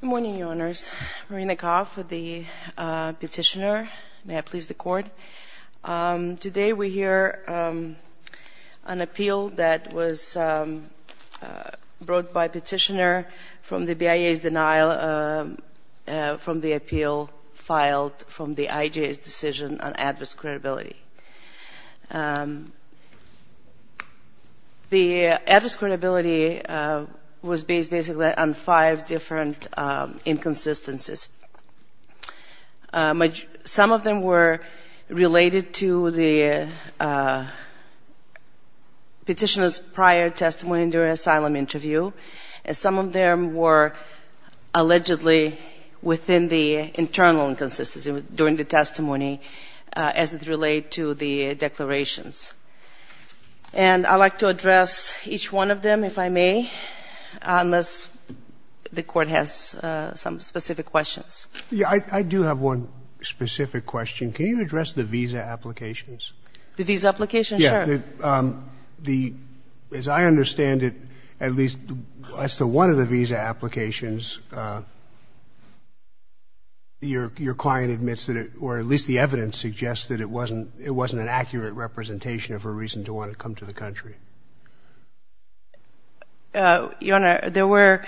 Good morning, Your Honours. Marina Kov, the petitioner. May I please the Court? Today we hear an appeal that was brought by a petitioner from the BIA's denial from the appeal filed from the IJ's decision on adverse credibility. The adverse credibility was based basically on five different inconsistencies. Some of them were related to the petitioner's prior testimony during an asylum interview, and some of them were allegedly within the internal inconsistency during the testimony as it related to the declarations. And I would like to address each one of them, if I may, unless the Court has some specific questions. I do have one specific question. Can you address the visa applications? The visa applications? Sure. As I understand it, at least as to one of the visa applications, your client admits or at least the evidence suggests that it wasn't an accurate representation of her reason to want to come to the country. Your Honor, there were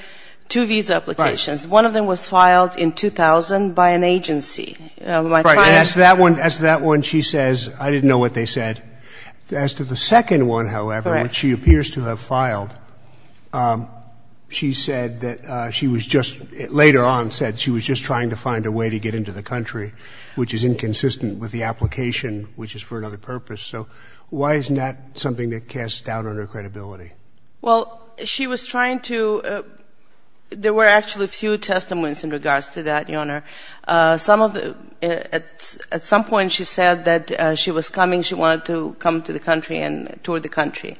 two visa applications. Right. One of them was filed in 2000 by an agency. Right. As to that one, she says, I didn't know what they said. As to the second one, however, which she appears to have filed, she said that she was just later on said she was just trying to find a way to get into the country, which is inconsistent with the application, which is for another purpose. So why isn't that something that casts doubt on her credibility? Well, she was trying to — there were actually a few testimonies in regards to that, Your Honor. At some point she said that she was coming, she wanted to come to the country and tour the country.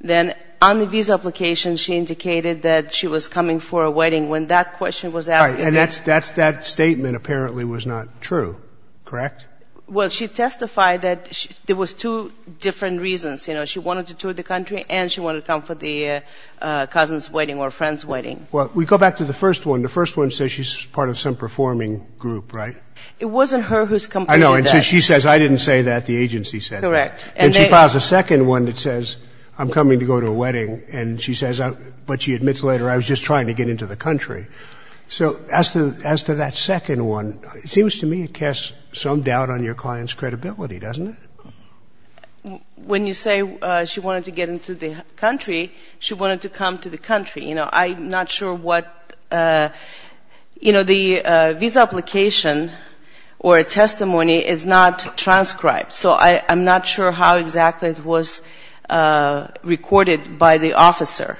Then on the visa application she indicated that she was coming for a wedding. When that question was asked — All right. And that statement apparently was not true, correct? Well, she testified that there was two different reasons. You know, she wanted to tour the country and she wanted to come for the cousin's wedding or friend's wedding. Well, we go back to the first one. The first one says she's part of some performing group, right? It wasn't her who's — I know. And so she says, I didn't say that, the agency said that. Correct. And she files a second one that says, I'm coming to go to a wedding. And she says — but she admits later, I was just trying to get into the country. So as to that second one, it seems to me it casts some doubt on your client's credibility, doesn't it? When you say she wanted to get into the country, she wanted to come to the country. You know, I'm not sure what — you know, the visa application or testimony is not transcribed. So I'm not sure how exactly it was recorded by the officer,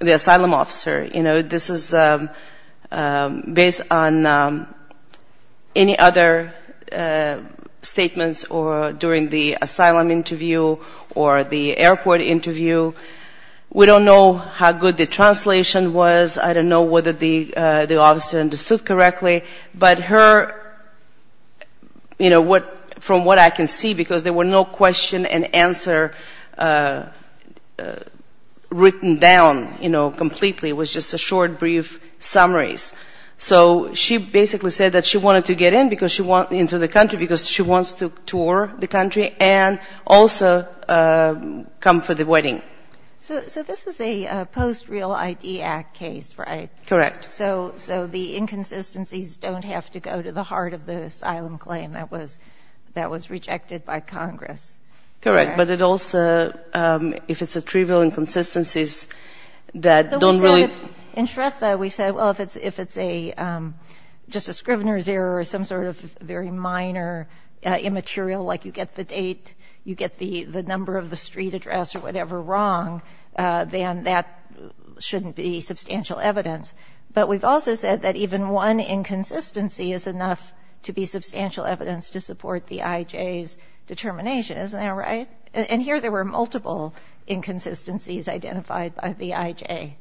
the asylum officer. You know, this is based on any other statements during the asylum interview or the airport interview. We don't know how good the translation was. I don't know whether the officer understood correctly. But her — you know, what — from what I can see, because there were no question and answer written down, you know, completely. It was just a short, brief summaries. So she basically said that she wanted to get into the country because she wants to tour the country and also come for the wedding. So this is a post-Real ID Act case, right? Correct. So the inconsistencies don't have to go to the heart of the asylum claim. That was rejected by Congress. Correct. But it also — if it's a trivial inconsistencies that don't really — In Shretha, we said, well, if it's a — just a scrivener's error or some sort of very minor immaterial, like you get the date, you get the number of the street address or whatever wrong, then that shouldn't be substantial evidence. But we've also said that even one inconsistency is enough to be substantial evidence to support the IJ's determination. Isn't that right? And here there were multiple inconsistencies identified by the IJ.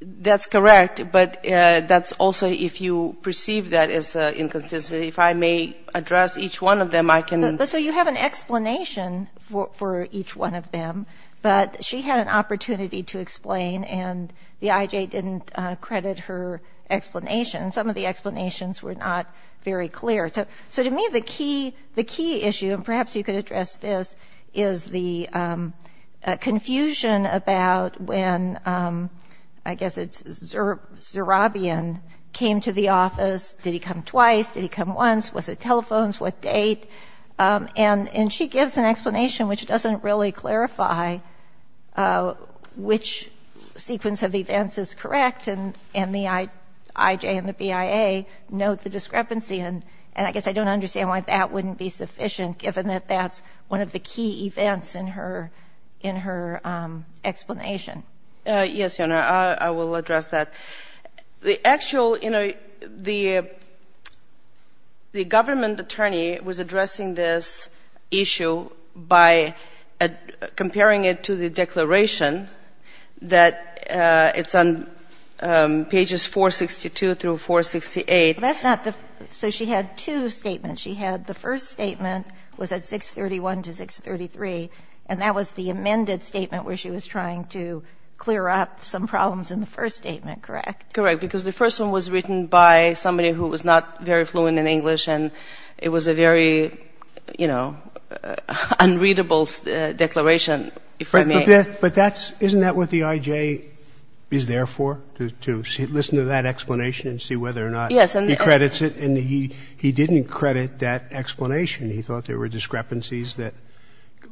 That's correct. But that's also — if you perceive that as an inconsistency, if I may address each one of them, I can — So you have an explanation for each one of them, but she had an opportunity to explain, and the IJ didn't credit her explanation. Some of the explanations were not very clear. So to me, the key issue — and perhaps you could address this — is the confusion about when, I guess it's Zerabian came to the office. Did he come twice? Did he come once? Was it telephones? What date? And she gives an explanation which doesn't really clarify which sequence of events is correct, and the IJ and the BIA note the discrepancy. And I guess I don't understand why that wouldn't be sufficient, given that that's one of the key events in her explanation. Yes, Your Honor, I will address that. The actual — you know, the government attorney was addressing this issue by comparing it to the declaration that it's on pages 462 through 468. That's not the — so she had two statements. She had — the first statement was at 631 to 633, and that was the amended statement where she was trying to clear up some problems in the first statement, correct? Correct. Because the first one was written by somebody who was not very fluent in English, and it was a very, you know, unreadable declaration, if I may — But that's — isn't that what the IJ is there for, to listen to that explanation and see whether or not he credits it? Yes, and — And he didn't credit that explanation. He thought there were discrepancies that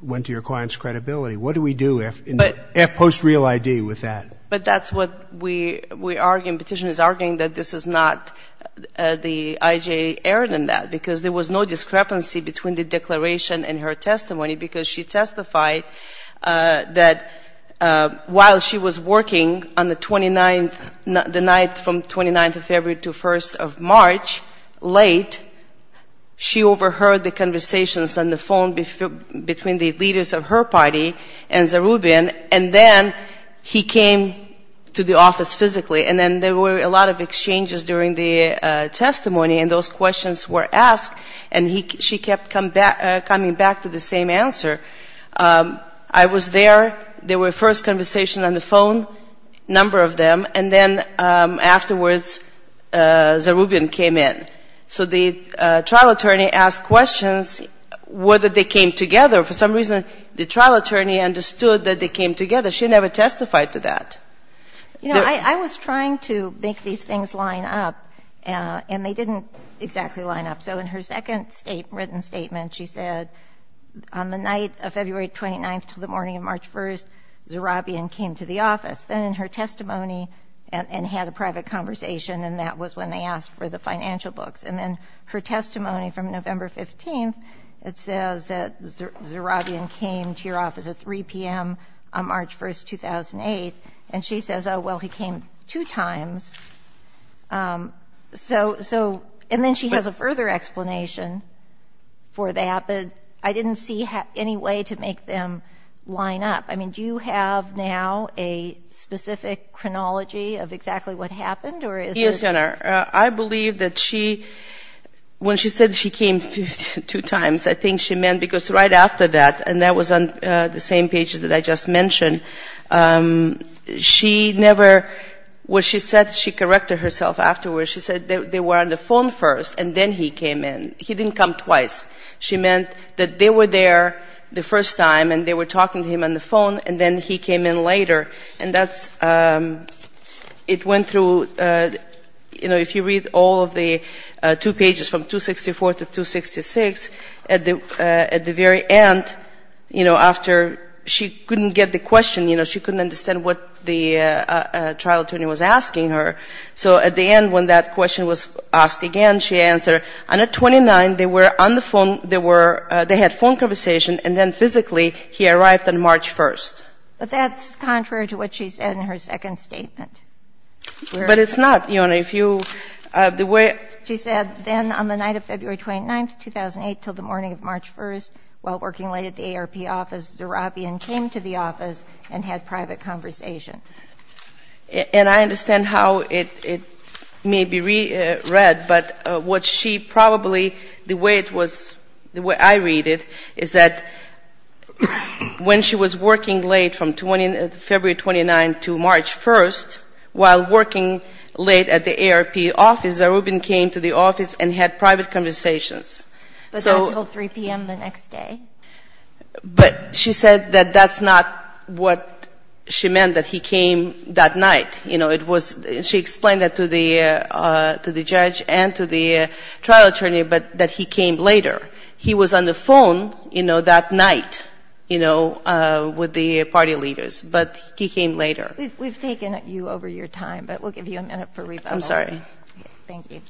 went to your client's credibility. What do we do in the post-real ID with that? But that's what we argue. The petitioner is arguing that this is not the IJ error in that, because there was no discrepancy between the declaration and her testimony, because she testified that while she was working on the 29th — the night from 29th of February to 1st of March, late, she overheard the conversations on the phone between the leaders of her party and Zarubin, and then he came to the office physically. And then there were a lot of exchanges during the testimony, and those questions were asked, and she kept coming back to the same answer. I was there. There were first conversations on the phone, a number of them. And then afterwards, Zarubin came in. So the trial attorney asked questions whether they came together. For some reason, the trial attorney understood that they came together. She never testified to that. You know, I was trying to make these things line up, and they didn't exactly line up. So in her second written statement, she said on the night of February 29th to the morning of March 1st, Zarubin came to the office. Then in her testimony and had a private conversation, and that was when they asked for the financial books, and then her testimony from November 15th, it says that Zarubin came to your office at 3 p.m. on March 1st, 2008, and she says, oh, well, he came two times. And then she has a further explanation for that, but I didn't see any way to make them line up. I mean, do you have now a specific chronology of exactly what happened? I believe that she, when she said she came two times, I think she meant, because right after that, and that was on the same page that I just mentioned, she never, what she said, she corrected herself afterwards. She said they were on the phone first, and then he came in. He didn't come twice. She meant that they were there the first time, and they were talking to him on the phone, and then he came in later. And that's, it went through, you know, if you read all of the two pages from 264 to 266, at the very end, you know, after she couldn't get the question, you know, she couldn't understand what the trial attorney was asking her. So at the end, when that question was asked again, she answered, on the 29th they were on the phone, they were, they had phone conversation, and then physically he arrived on March 1st. But that's contrary to what she said in her second statement. But it's not, Your Honor. If you, the way. She said, then on the night of February 29th, 2008, till the morning of March 1st, while working late at the ARP office, Zarabian came to the office and had private conversation. And I understand how it may be read, but what she probably, the way it was, the way I read it, is that when she was working late from February 29th to March 1st, while working late at the ARP office, Zarabian came to the office and had private conversations. So. Until 3 p.m. the next day. But she said that that's not what she meant, that he came that night. You know, it was, she explained that to the judge and to the trial attorney, but that he came later. He was on the phone, you know, that night, you know, with the party leaders. But he came later. We've taken you over your time, but we'll give you a minute for rebuttal. I'm sorry. Thank you.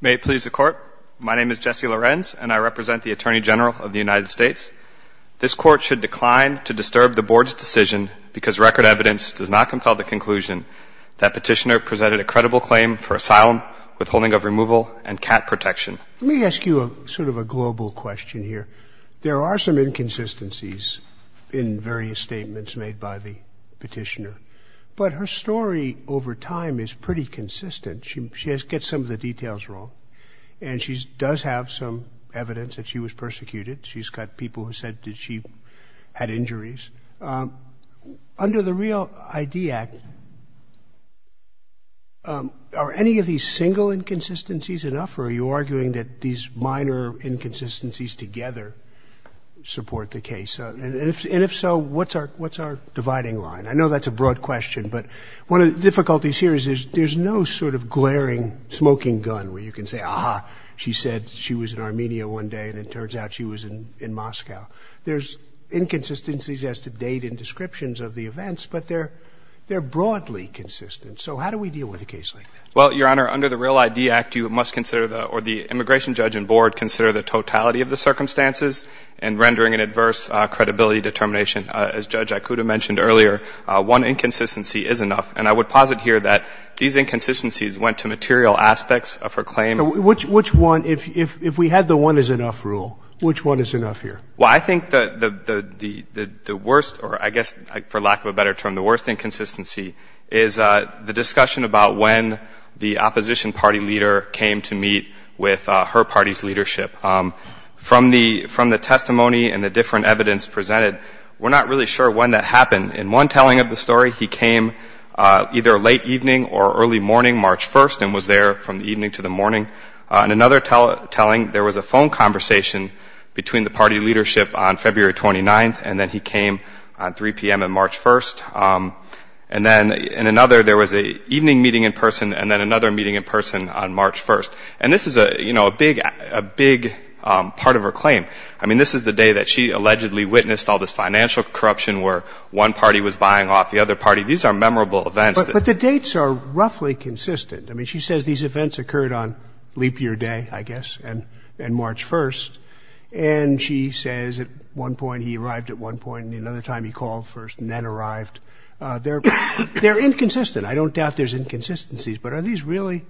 May it please the Court. My name is Jesse Lorenz, and I represent the Attorney General of the United States. This Court should decline to disturb the Board's decision because record evidence does not compel the conclusion that Petitioner presented a credible claim for asylum, withholding of removal, and cat protection. Let me ask you sort of a global question here. There are some inconsistencies in various statements made by the Petitioner, but her story over time is pretty consistent. She gets some of the details wrong, and she does have some evidence that she was persecuted. She's got people who said that she had injuries. Under the REAL ID Act, are any of these single inconsistencies enough, or are you arguing that these minor inconsistencies together support the case? And if so, what's our dividing line? I know that's a broad question, but one of the difficulties here is there's no sort of glaring smoking gun where you can say, aha, she said she was in Armenia one day, and it turns out she was in Moscow. There's inconsistencies as to date and descriptions of the events, but they're broadly consistent. So how do we deal with a case like that? Well, Your Honor, under the REAL ID Act, you must consider, or the Immigration Judge and Board, consider the totality of the circumstances in rendering an adverse credibility determination. As Judge Ikuda mentioned earlier, one inconsistency is enough. And I would posit here that these inconsistencies went to material aspects of her claim. Which one? If we had the one is enough rule, which one is enough here? Well, I think the worst, or I guess for lack of a better term, the worst inconsistency is the discussion about when the opposition party leader came to meet with her party's leadership. From the testimony and the different evidence presented, we're not really sure when that happened. In one telling of the story, he came either late evening or early morning, March 1st, and was there from the evening to the morning. In another telling, there was a phone conversation between the party leadership on February 29th, and then he came on 3 p.m. on March 1st. And then in another, there was an evening meeting in person and then another meeting in person on March 1st. And this is, you know, a big part of her claim. I mean, this is the day that she allegedly witnessed all this financial corruption where one party was buying off the other party. These are memorable events. But the dates are roughly consistent. I mean, she says these events occurred on leap year day, I guess, and March 1st. And she says at one point he arrived at one point, and another time he called first and then arrived. They're inconsistent. I don't doubt there's inconsistencies. But are these really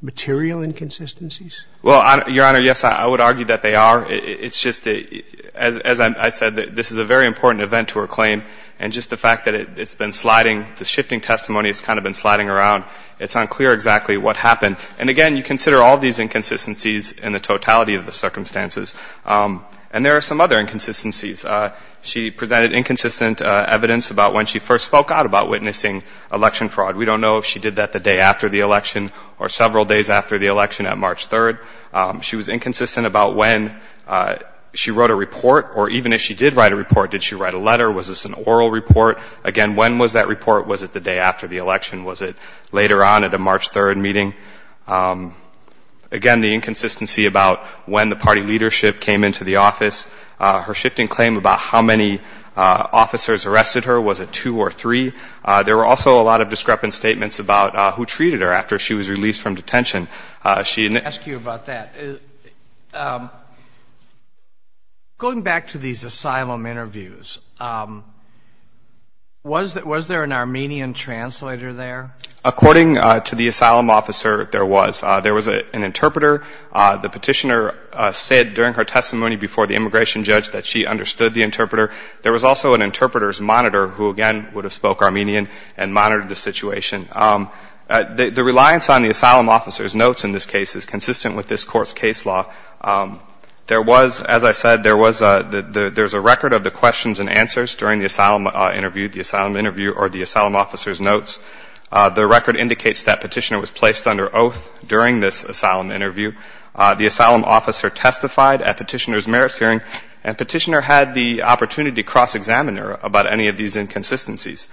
material inconsistencies? Well, Your Honor, yes, I would argue that they are. It's just, as I said, this is a very important event to her claim. And just the fact that it's been sliding, the shifting testimony has kind of been sliding around. It's unclear exactly what happened. And, again, you consider all these inconsistencies in the totality of the circumstances. And there are some other inconsistencies. She presented inconsistent evidence about when she first spoke out about witnessing election fraud. We don't know if she did that the day after the election or several days after the election at March 3rd. She was inconsistent about when she wrote a report or even if she did write a report, did she write a letter? Was this an oral report? Again, when was that report? Was it the day after the election? Was it later on at a March 3rd meeting? Again, the inconsistency about when the party leadership came into the office, her shifting claim about how many officers arrested her. Was it two or three? There were also a lot of discrepant statements about who treated her after she was released from detention. Let me ask you about that. Going back to these asylum interviews, was there an Armenian translator there? According to the asylum officer, there was. There was an interpreter. The petitioner said during her testimony before the immigration judge that she understood the interpreter. There was also an interpreter's monitor who, again, would have spoke Armenian and monitored the situation. The reliance on the asylum officer's notes in this case is consistent with this Court's case law. There was, as I said, there was a record of the questions and answers during the asylum interview, the asylum interview or the asylum officer's notes. The record indicates that petitioner was placed under oath during this asylum interview. The asylum officer testified at petitioner's merits hearing, and petitioner had the opportunity to cross-examine her about any of these inconsistencies.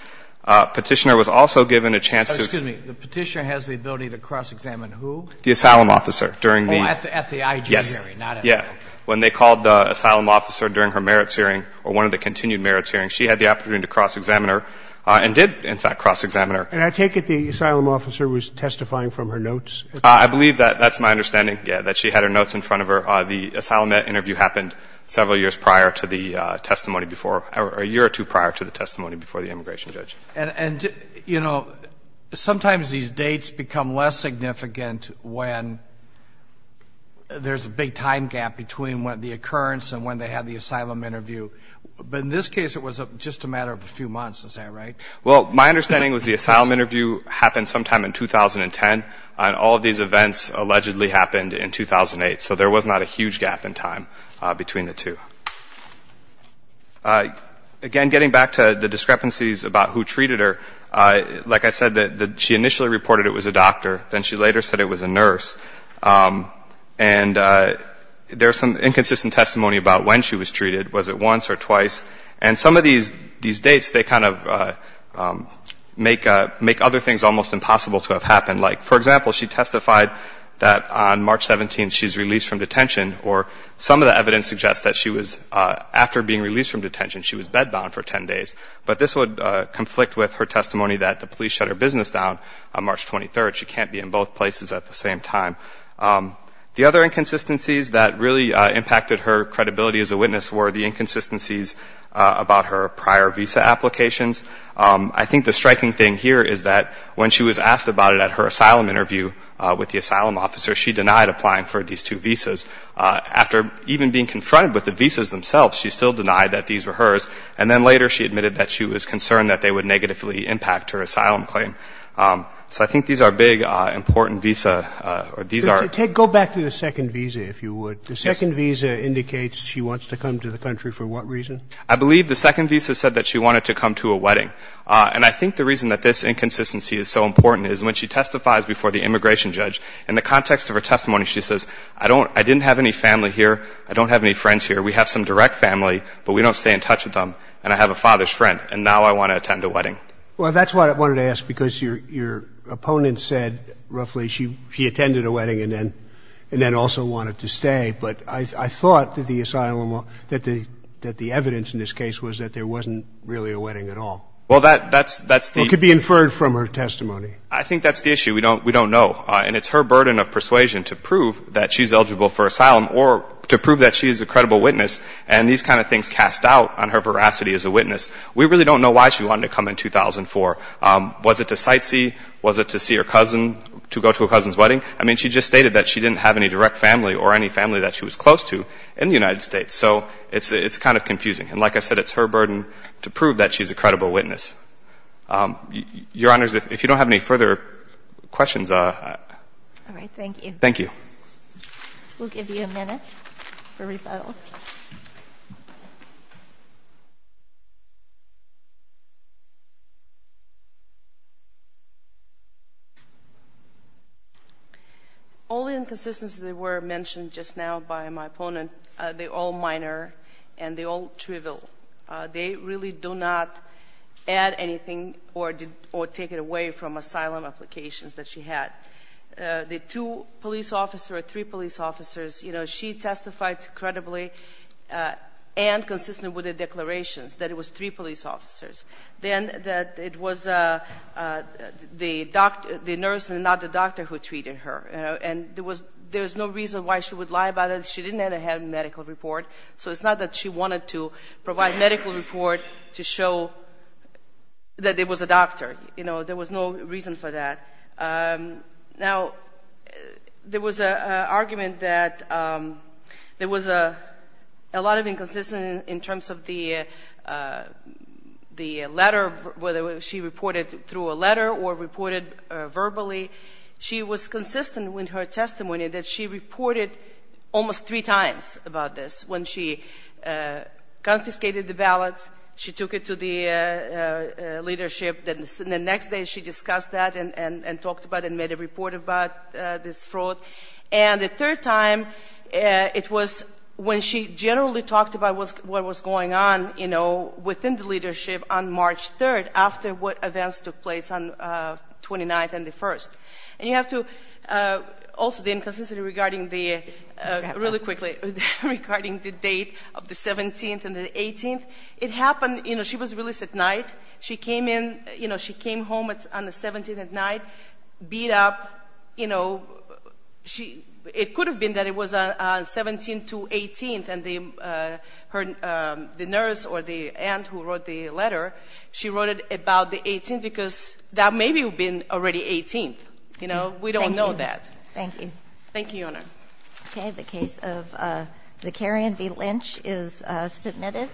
Petitioner was also given a chance to ---- Oh, excuse me. The petitioner has the ability to cross-examine who? The asylum officer during the ---- Oh, at the IG hearing, not at the merits hearing. Yes, yes. When they called the asylum officer during her merits hearing or one of the continued merits hearings, she had the opportunity to cross-examine her and did, in fact, cross-examine her. And I take it the asylum officer was testifying from her notes? I believe that that's my understanding, yes, that she had her notes in front of her. The asylum interview happened several years prior to the testimony before or a year or two prior to the testimony before the immigration judge. And, you know, sometimes these dates become less significant when there's a big time gap between the occurrence and when they had the asylum interview. But in this case, it was just a matter of a few months. Is that right? Well, my understanding was the asylum interview happened sometime in 2010, and all of these events allegedly happened in 2008. So there was not a huge gap in time between the two. Again, getting back to the discrepancies about who treated her, like I said, she initially reported it was a doctor. Then she later said it was a nurse. And there's some inconsistent testimony about when she was treated. Was it once or twice? And some of these dates, they kind of make other things almost impossible to have happened. Like, for example, she testified that on March 17th she was released from detention. She was bedbound for 10 days. But this would conflict with her testimony that the police shut her business down on March 23rd. She can't be in both places at the same time. The other inconsistencies that really impacted her credibility as a witness were the inconsistencies about her prior visa applications. I think the striking thing here is that when she was asked about it at her asylum interview with the asylum officer, she denied applying for these two visas. After even being confronted with the visas themselves, she still denied that these were hers. And then later she admitted that she was concerned that they would negatively impact her asylum claim. So I think these are big, important visa or these are ‑‑ Go back to the second visa, if you would. The second visa indicates she wants to come to the country for what reason? I believe the second visa said that she wanted to come to a wedding. And I think the reason that this inconsistency is so important is when she testifies before the immigration judge, in the context of her testimony, she says, I didn't have any family here. I don't have any friends here. We have some direct family, but we don't stay in touch with them. And I have a father's friend, and now I want to attend a wedding. Well, that's what I wanted to ask, because your opponent said roughly she attended a wedding and then also wanted to stay. But I thought that the evidence in this case was that there wasn't really a wedding at all. Well, that's the ‑‑ Or could be inferred from her testimony. I think that's the issue. We don't know. And it's her burden of persuasion to prove that she's eligible for asylum or to prove that she's a credible witness. And these kind of things cast doubt on her veracity as a witness. We really don't know why she wanted to come in 2004. Was it to sightsee? Was it to see her cousin, to go to her cousin's wedding? I mean, she just stated that she didn't have any direct family or any family that she was close to in the United States. So it's kind of confusing. And like I said, it's her burden to prove that she's a credible witness. Your Honors, if you don't have any further questions. All right. Thank you. Thank you. We'll give you a minute for rebuttal. All the inconsistencies that were mentioned just now by my opponent, they're all minor and they're all trivial. They really do not add anything or take it away from asylum applications that she had. The two police officers or three police officers, you know, she testified credibly and consistent with the declarations that it was three police officers. Then that it was the nurse and not the doctor who treated her. And there was no reason why she would lie about it. She didn't have a medical report. So it's not that she wanted to provide a medical report to show that it was a doctor. You know, there was no reason for that. Now, there was an argument that there was a lot of inconsistency in terms of the letter, whether she reported through a letter or reported verbally. She was consistent with her testimony that she reported almost three times about this when she confiscated the ballots, she took it to the leadership. Then the next day, she discussed that and talked about it and made a report about this fraud. And the third time, it was when she generally talked about what was going on, you know, within the leadership on March 3rd after what events took place on 29th and the 1st. And you have to also, the inconsistency regarding the, really quickly, regarding the date of the 17th and the 18th, it happened, you know, she was released at night. She came in, you know, she came home on the 17th at night, beat up, you know, it could have been that it was on 17th to 18th and the nurse or the aunt who wrote the letter, you know, we don't know that. Thank you. Thank you, Your Honor. Okay, the case of Zakarian v. Lynch is submitted.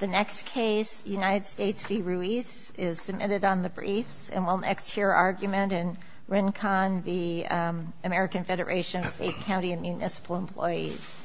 The next case, United States v. Ruiz, is submitted on the briefs and we'll next hear argument in RINCON, the American Federation of State, County, and Municipal Employees.